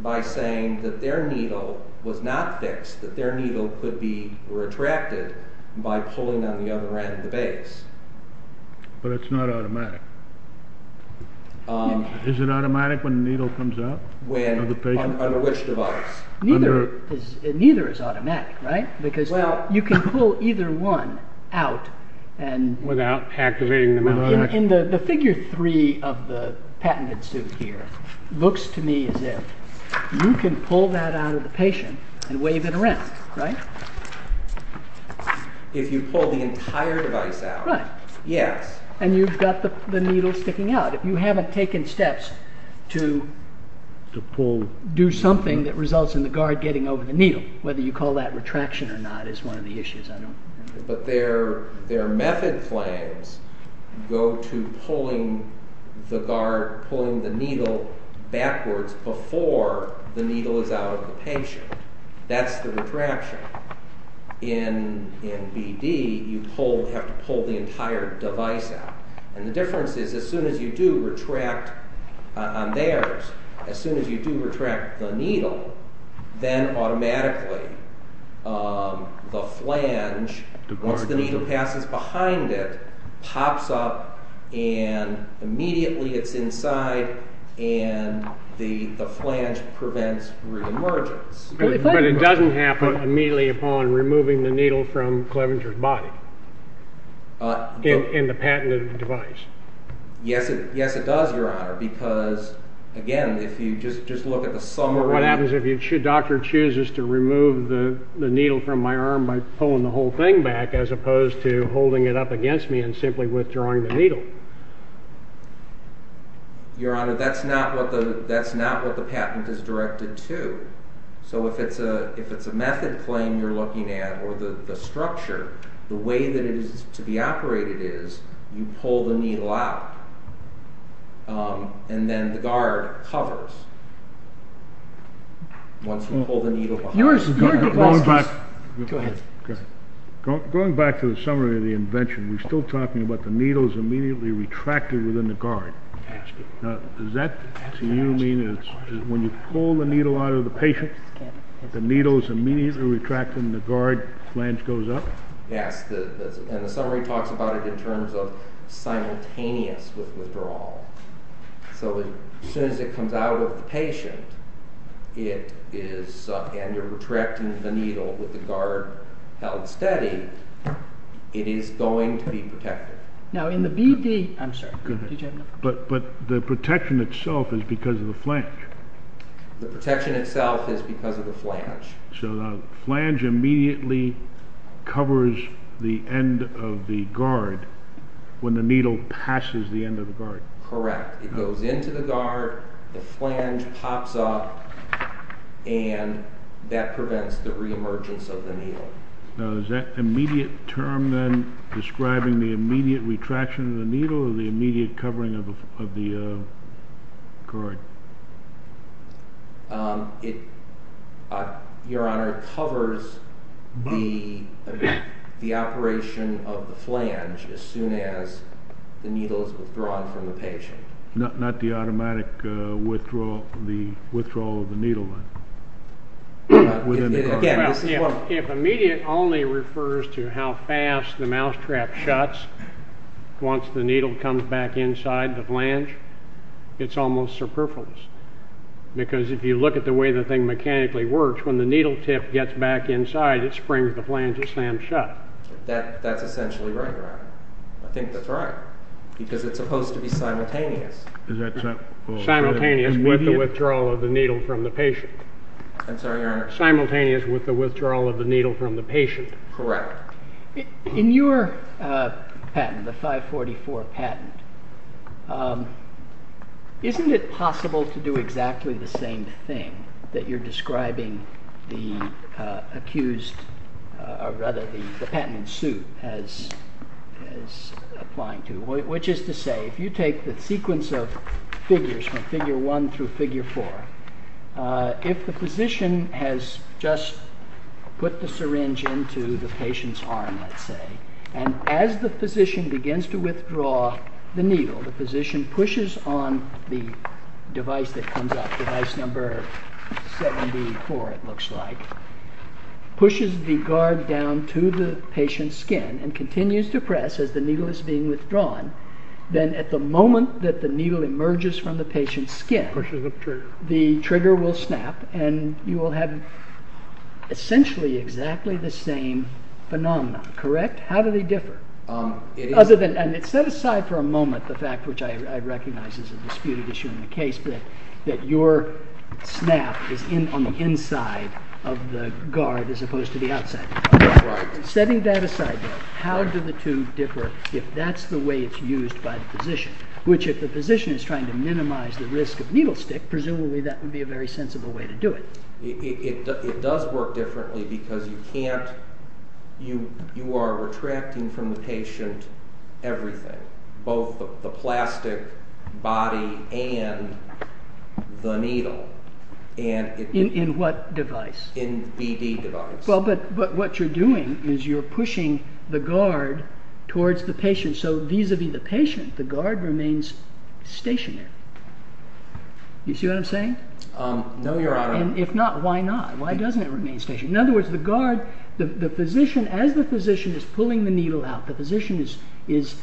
by saying that their needle was not fixed, that their needle could be retracted by pulling on the other end of the base. But it's not automatic. Is it automatic when the needle comes out of the patient? Under which device? Neither is automatic, right? Because you can pull either one out. Without activating them? In the figure three of the patented suit here, it looks to me as if you can pull that out of the patient and wave it around, right? If you pull the entire device out? Right. Yes. And you've got the needle sticking out. If you haven't taken steps to do something that results in the guard getting over the needle, whether you call that retraction or not is one of the issues. But their method claims go to pulling the needle backwards before the needle is out of the patient. That's the retraction. In BD, you have to pull the entire device out. And the difference is as soon as you do retract on theirs, as soon as you do retract the needle, then automatically the flange, once the needle passes behind it, pops up and immediately it's inside and the flange prevents re-emergence. But it doesn't happen immediately upon removing the needle from Clevenger's body in the patented device. Yes, it does, Your Honor. Because, again, if you just look at the summary... What happens if the doctor chooses to remove the needle from my arm by pulling the whole thing back as opposed to holding it up against me and simply withdrawing the needle? Your Honor, that's not what the patent is directed to. So if it's a method claim you're looking at, or the structure, the way that it is to be operated is you pull the needle out and then the guard covers once you pull the needle behind it. Going back to the summary of the invention, we're still talking about the needles immediately retracted within the guard. Does that to you mean that when you pull the needle out of the patient, the needle is immediately retracted and the guard flange goes up? Yes, and the summary talks about it in terms of simultaneous withdrawal. So as soon as it comes out of the patient and you're retracting the needle with the guard held steady, it is going to be protected. But the protection itself is because of the flange? The protection itself is because of the flange. So the flange immediately covers the end of the guard when the needle passes the end of the guard? Correct. It goes into the guard, the flange pops up, and that prevents the re-emergence of the needle. Now is that immediate term then describing the immediate retraction of the needle or the immediate covering of the guard? Your Honor, it covers the operation of the flange as soon as the needle is withdrawn from the patient. Not the automatic withdrawal of the needle then? If immediate only refers to how fast the mousetrap shuts once the needle comes back inside the flange, it's almost superfluous. Because if you look at the way the thing mechanically works, when the needle tip gets back inside, it springs the flange and slams shut. That's essentially right, Your Honor. I think that's right, because it's supposed to be simultaneous. Simultaneous with the withdrawal of the needle from the patient. I'm sorry, Your Honor. Simultaneous with the withdrawal of the needle from the patient. Correct. In your patent, the 544 patent, isn't it possible to do exactly the same thing that you're describing the patent suit as applying to? Which is to say, if you take the sequence of figures from figure 1 through figure 4, if the physician has just put the syringe into the patient's arm, let's say, and as the physician begins to withdraw the needle, the physician pushes on the device that comes up, device number 74, it looks like, pushes the guard down to the patient's skin and continues to press as the needle is being withdrawn, then at the moment that the needle emerges from the patient's skin, the trigger will snap and you will have essentially exactly the same phenomenon. Correct? How do they differ? And set aside for a moment the fact, which I recognize is a disputed issue in the case, that your snap is on the inside of the guard as opposed to the outside. Right. Setting that aside, how do the two differ if that's the way it's used by the physician? Which if the physician is trying to minimize the risk of needle stick, presumably that would be a very sensible way to do it. It does work differently because you are retracting from the patient everything, both the plastic body and the needle. In what device? In BD device. But what you're doing is you're pushing the guard towards the patient, so vis-a-vis the patient, the guard remains stationary. You see what I'm saying? No, your honor. If not, why not? Why doesn't it remain stationary? In other words, the physician, as the physician is pulling the needle out, the physician is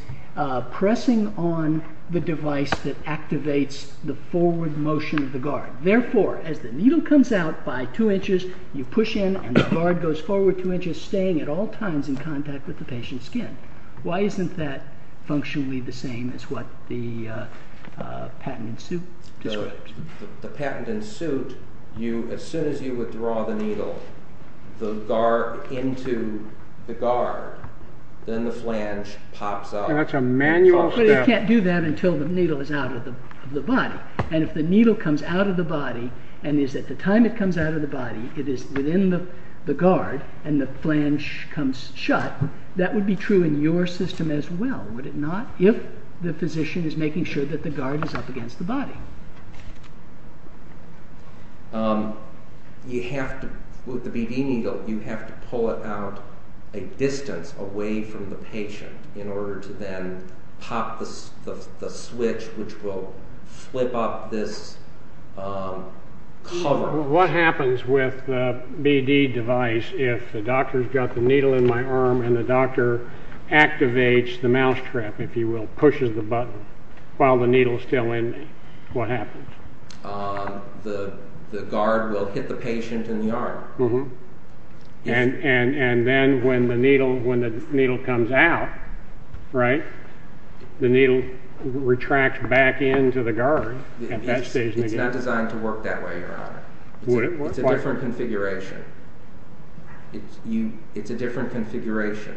pressing on the device that activates the forward motion of the guard. Therefore, as the needle comes out by two inches, you push in and the guard goes forward two inches, staying at all times in contact with the patient's skin. Why isn't that functionally the same as what the patent in suit describes? The patent in suit, as soon as you withdraw the needle, the guard into the guard, then the flange pops up. That's a manual step. But it can't do that until the needle is out of the body. And if the needle comes out of the body and is at the time it comes out of the body, it is within the guard and the flange comes shut, that would be true in your system as well, would it not? If the physician is making sure that the guard is up against the body. You have to, with the BD needle, you have to pull it out a distance away from the patient in order to then pop the switch which will flip up this cover. What happens with the BD device if the doctor's got the needle in my arm and the doctor activates the mousetrap, if you will, pushes the button while the needle is still in me, what happens? The guard will hit the patient in the arm. And then when the needle comes out, right, the needle retracts back into the guard. It's not designed to work that way, your honor. It's a different configuration. It's a different configuration.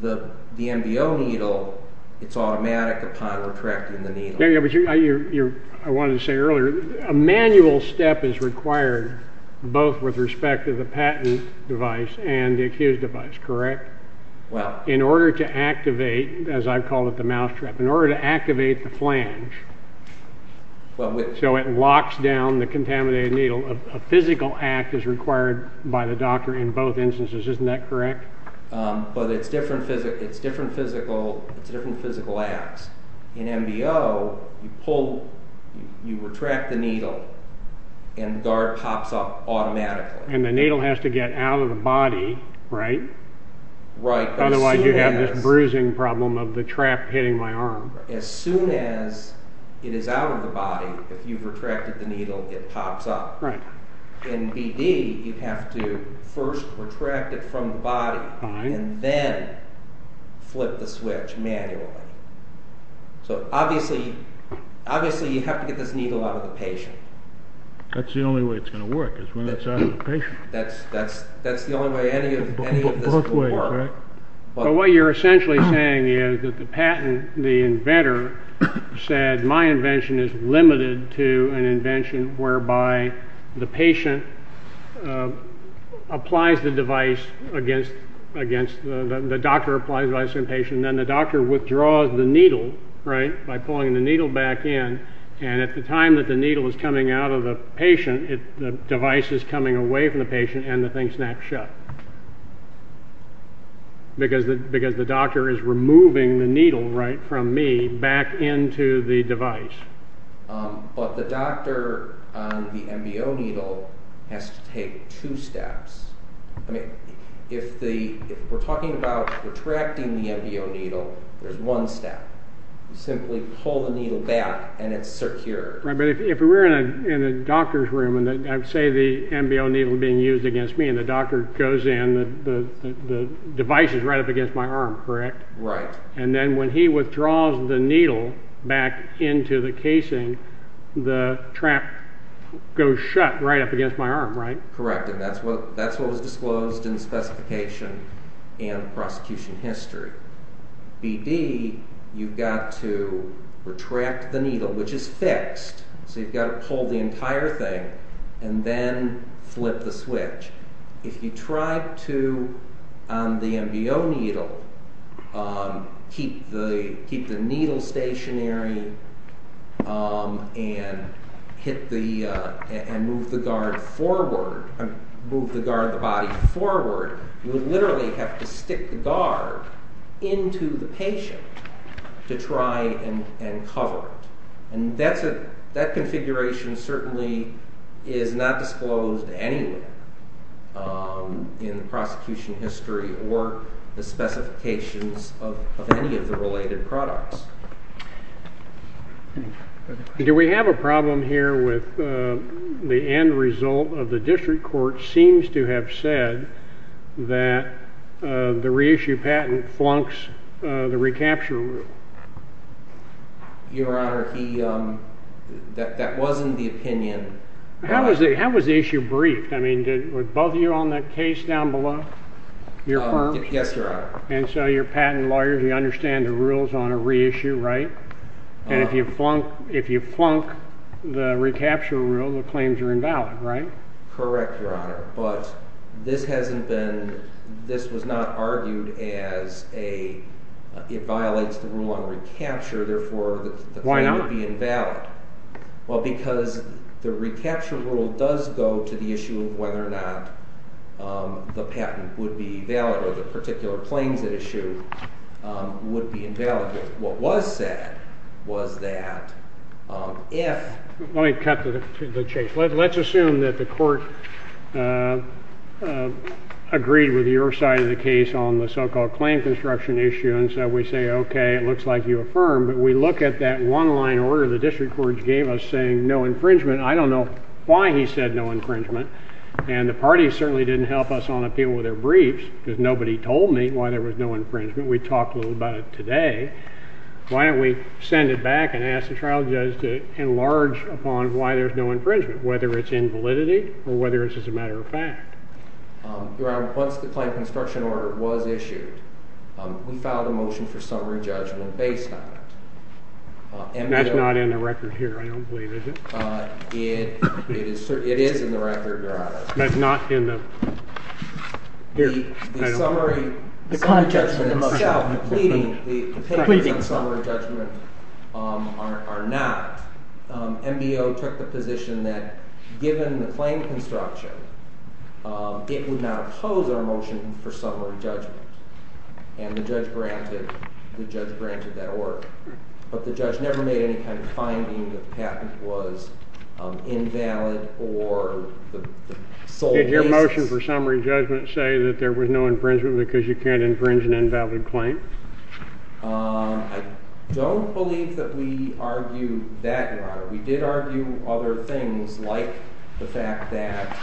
The NBO needle, it's automatic upon retracting the needle. I wanted to say earlier, a manual step is required both with respect to the patent device and the accused device, correct? In order to activate, as I call it the mousetrap, in order to activate the flange, so it locks down the contaminated needle, a physical act is required by the doctor in both instances, isn't that correct? But it's different physical acts. In NBO, you pull, you retract the needle and the guard pops up automatically. And the needle has to get out of the body, right? Right. Otherwise you have this bruising problem of the trap hitting my arm. As soon as it is out of the body, if you've retracted the needle, it pops up. Right. In BD, you have to first retract it from the body and then flip the switch manually. So obviously you have to get this needle out of the patient. That's the only way it's going to work, is when it's out of the patient. That's the only way any of this will work. Both ways, right? But what you're essentially saying is that the patent, the inventor, said my invention is limited to an invention whereby the patient applies the device against, the doctor applies the device to the patient, and then the doctor withdraws the needle, right, by pulling the needle back in. And at the time that the needle is coming out of the patient, the device is coming away from the patient and the thing snaps shut. Because the doctor is removing the needle, right, from me back into the device. But the doctor on the NBO needle has to take two steps. If we're talking about retracting the NBO needle, there's one step. You simply pull the needle back and it's secure. Right, but if we're in a doctor's room and I say the NBO needle is being used against me and the doctor goes in, the device is right up against my arm, correct? Right. And then when he withdraws the needle back into the casing, the trap goes shut right up against my arm, right? Correct, and that's what was disclosed in the specification and the prosecution history. BD, you've got to retract the needle, which is fixed. So you've got to pull the entire thing and then flip the switch. If you try to, on the NBO needle, keep the needle stationary and move the guard forward, move the guard of the body forward, you literally have to stick the guard into the patient to try and cover it. And that configuration certainly is not disclosed anywhere in the prosecution history or the specifications of any of the related products. Do we have a problem here with the end result of the district court seems to have said that the reissue patent flunks the recapture rule? Your Honor, that wasn't the opinion. How was the issue briefed? I mean, were both of you on that case down below? Yes, Your Honor. And so you're patent lawyers, you understand the rules on a reissue, right? And if you flunk the recapture rule, the claims are invalid, right? Correct, Your Honor. But this was not argued as it violates the rule on recapture. Therefore, the claim would be invalid. Why not? Well, because the recapture rule does go to the issue of whether or not the patent would be valid or the particular claims at issue would be invalid. What was said was that if— Let me cut to the chase. Let's assume that the court agreed with your side of the case on the so-called claim construction issue. And so we say, okay, it looks like you affirm. But we look at that one-line order the district court gave us saying no infringement. I don't know why he said no infringement. And the party certainly didn't help us on appeal with their briefs because nobody told me why there was no infringement. We talked a little about it today. Why don't we send it back and ask the trial judge to enlarge upon why there's no infringement, whether it's invalidity or whether it's just a matter of fact. Your Honor, once the claim construction order was issued, we filed a motion for summary judgment based on it. And that's not in the record here, I don't believe, is it? It is in the record, Your Honor. But not in the— The summary judgment itself, pleading, the opinions on summary judgment are not. MBO took the position that given the claim construction, it would not oppose our motion for summary judgment. And the judge granted that order. But the judge never made any kind of finding that the patent was invalid or the sole basis— You're saying that there was no infringement because you can't infringe an invalid claim? I don't believe that we argued that, Your Honor. We did argue other things like the fact that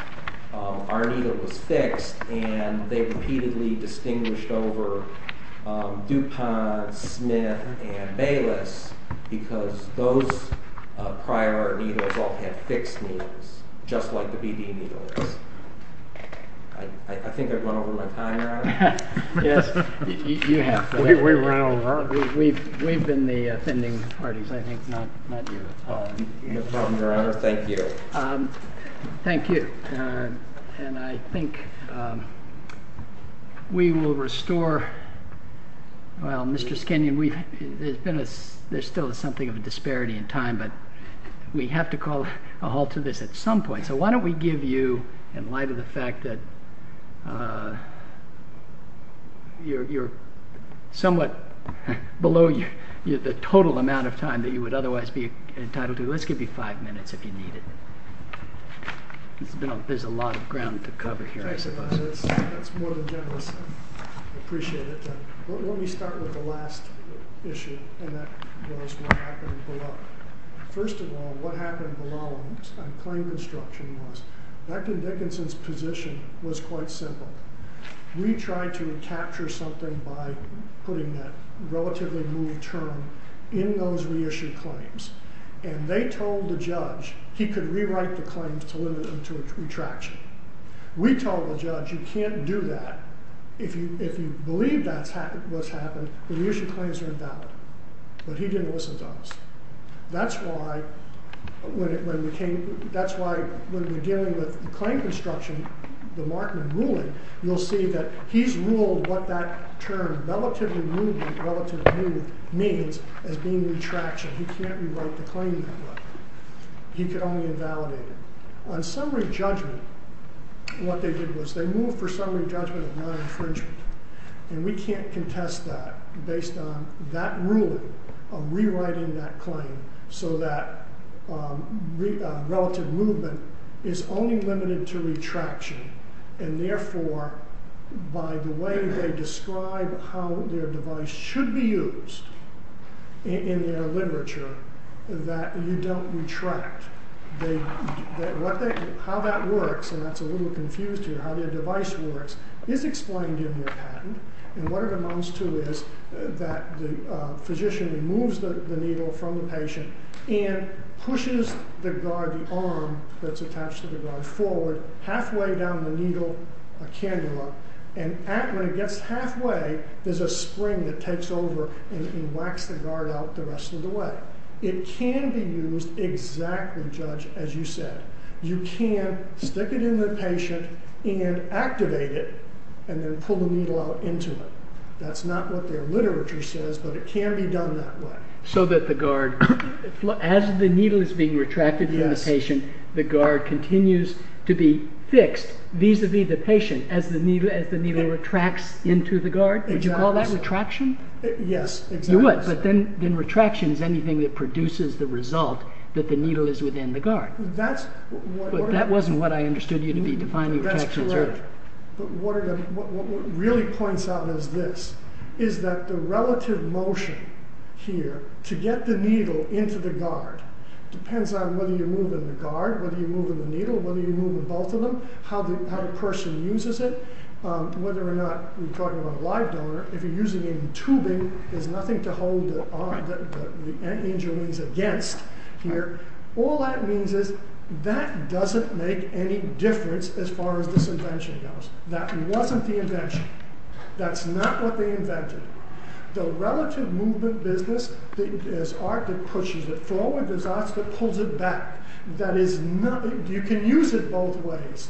our needle was fixed and they repeatedly distinguished over DuPont, Smith, and Bayless because those prior needles all had fixed needles, just like the BD needles. I think I've run over my time, Your Honor. Yes, you have. We've been the offending parties, I think, not you. No problem, Your Honor. Thank you. Thank you. And I think we will restore— There's still something of a disparity in time, but we have to call a halt to this at some point. So why don't we give you, in light of the fact that you're somewhat below the total amount of time that you would otherwise be entitled to, let's give you five minutes if you need it. There's a lot of ground to cover here, I suppose. That's more than generous. I appreciate it. Let me start with the last issue, and that was what happened below. First of all, what happened below on claim construction was, Dr. Dickinson's position was quite simple. We tried to capture something by putting that relatively new term in those reissued claims. And they told the judge he could rewrite the claims to limit them to retraction. We told the judge, you can't do that. If you believe that's what's happened, the reissued claims are invalid. But he didn't listen to us. That's why, when we're dealing with claim construction, the Markman ruling, you'll see that he's ruled what that term, relatively new, means as being retraction. He can't rewrite the claim that way. He could only invalidate it. On summary judgment, what they did was they moved for summary judgment of non-infringement. And we can't contest that based on that ruling of rewriting that claim so that relative movement is only limited to retraction. And therefore, by the way they describe how their device should be used in their literature, that you don't retract. How that works, and that's a little confused here, how their device works, is explained in their patent. And what it amounts to is that the physician removes the needle from the patient and pushes the guard, the arm that's attached to the guard, forward, halfway down the needle candela. And when it gets halfway, there's a spring that takes over and whacks the guard out the rest of the way. It can be used exactly, Judge, as you said. You can stick it in the patient and activate it and then pull the needle out into it. That's not what their literature says, but it can be done that way. So that the guard, as the needle is being retracted from the patient, the guard continues to be fixed vis-a-vis the patient as the needle retracts into the guard? Exactly so. Would you call that retraction? Yes. You would, but then retraction is anything that produces the result that the needle is within the guard. That's... But that wasn't what I understood you to be defining retraction as. That's correct. But what it really points out is this, is that the relative motion here to get the needle into the guard depends on whether you're moving the guard, whether you're moving the needle, whether you're moving both of them, how the person uses it. Whether or not we're talking about a live donor. If you're using it in tubing, there's nothing to hold the antennae and joints against here. All that means is that doesn't make any difference as far as this invention goes. That wasn't the invention. That's not what they invented. The relative movement business, there's art that pushes it forward. There's art that pulls it back. That is not... You can use it both ways.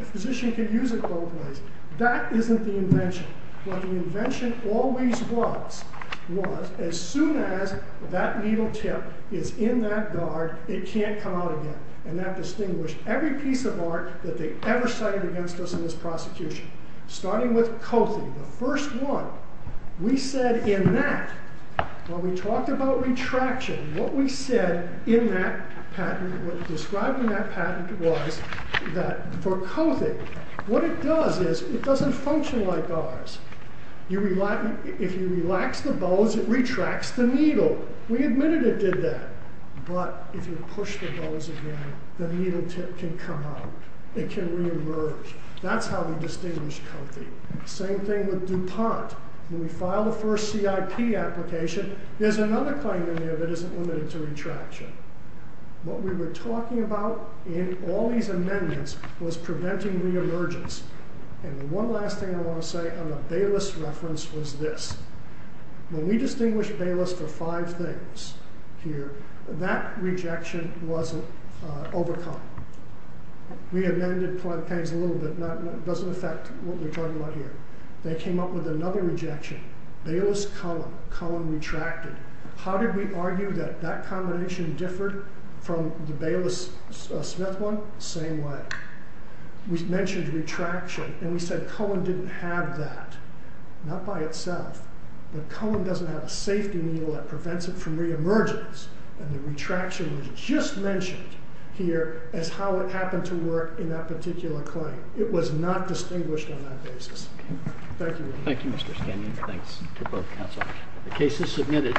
A physician can use it both ways. That isn't the invention. What the invention always was, was as soon as that needle tip is in that guard, it can't come out again. And that distinguished every piece of art that they ever cited against us in this prosecution. Starting with Kothi, the first one. We said in that, when we talked about retraction, what we said in that patent, describing that patent was that for Kothi, what it does is it doesn't function like ours. If you relax the bows, it retracts the needle. We admitted it did that. But if you push the bows again, the needle tip can come out. It can reemerge. That's how we distinguished Kothi. Same thing with DuPont. When we filed the first CIP application, there's another claim in there that isn't limited to retraction. What we were talking about in all these amendments was preventing reemergence. And one last thing I want to say on the Bayless reference was this. When we distinguished Bayless for five things here, that rejection was overcome. We amended plenty of things a little bit. It doesn't affect what we're talking about here. They came up with another rejection, Bayless-Cohen. Cohen retracted. How did we argue that that combination differed from the Bayless-Smith one? Same way. We mentioned retraction. And we said Cohen didn't have that. Not by itself. But Cohen doesn't have a safety needle that prevents it from reemergence. And the retraction was just mentioned here as how it happened to work in that particular claim. It was not distinguished on that basis. Thank you. Thank you, Mr. Stanion. Thanks to both counsel. The case is submitted.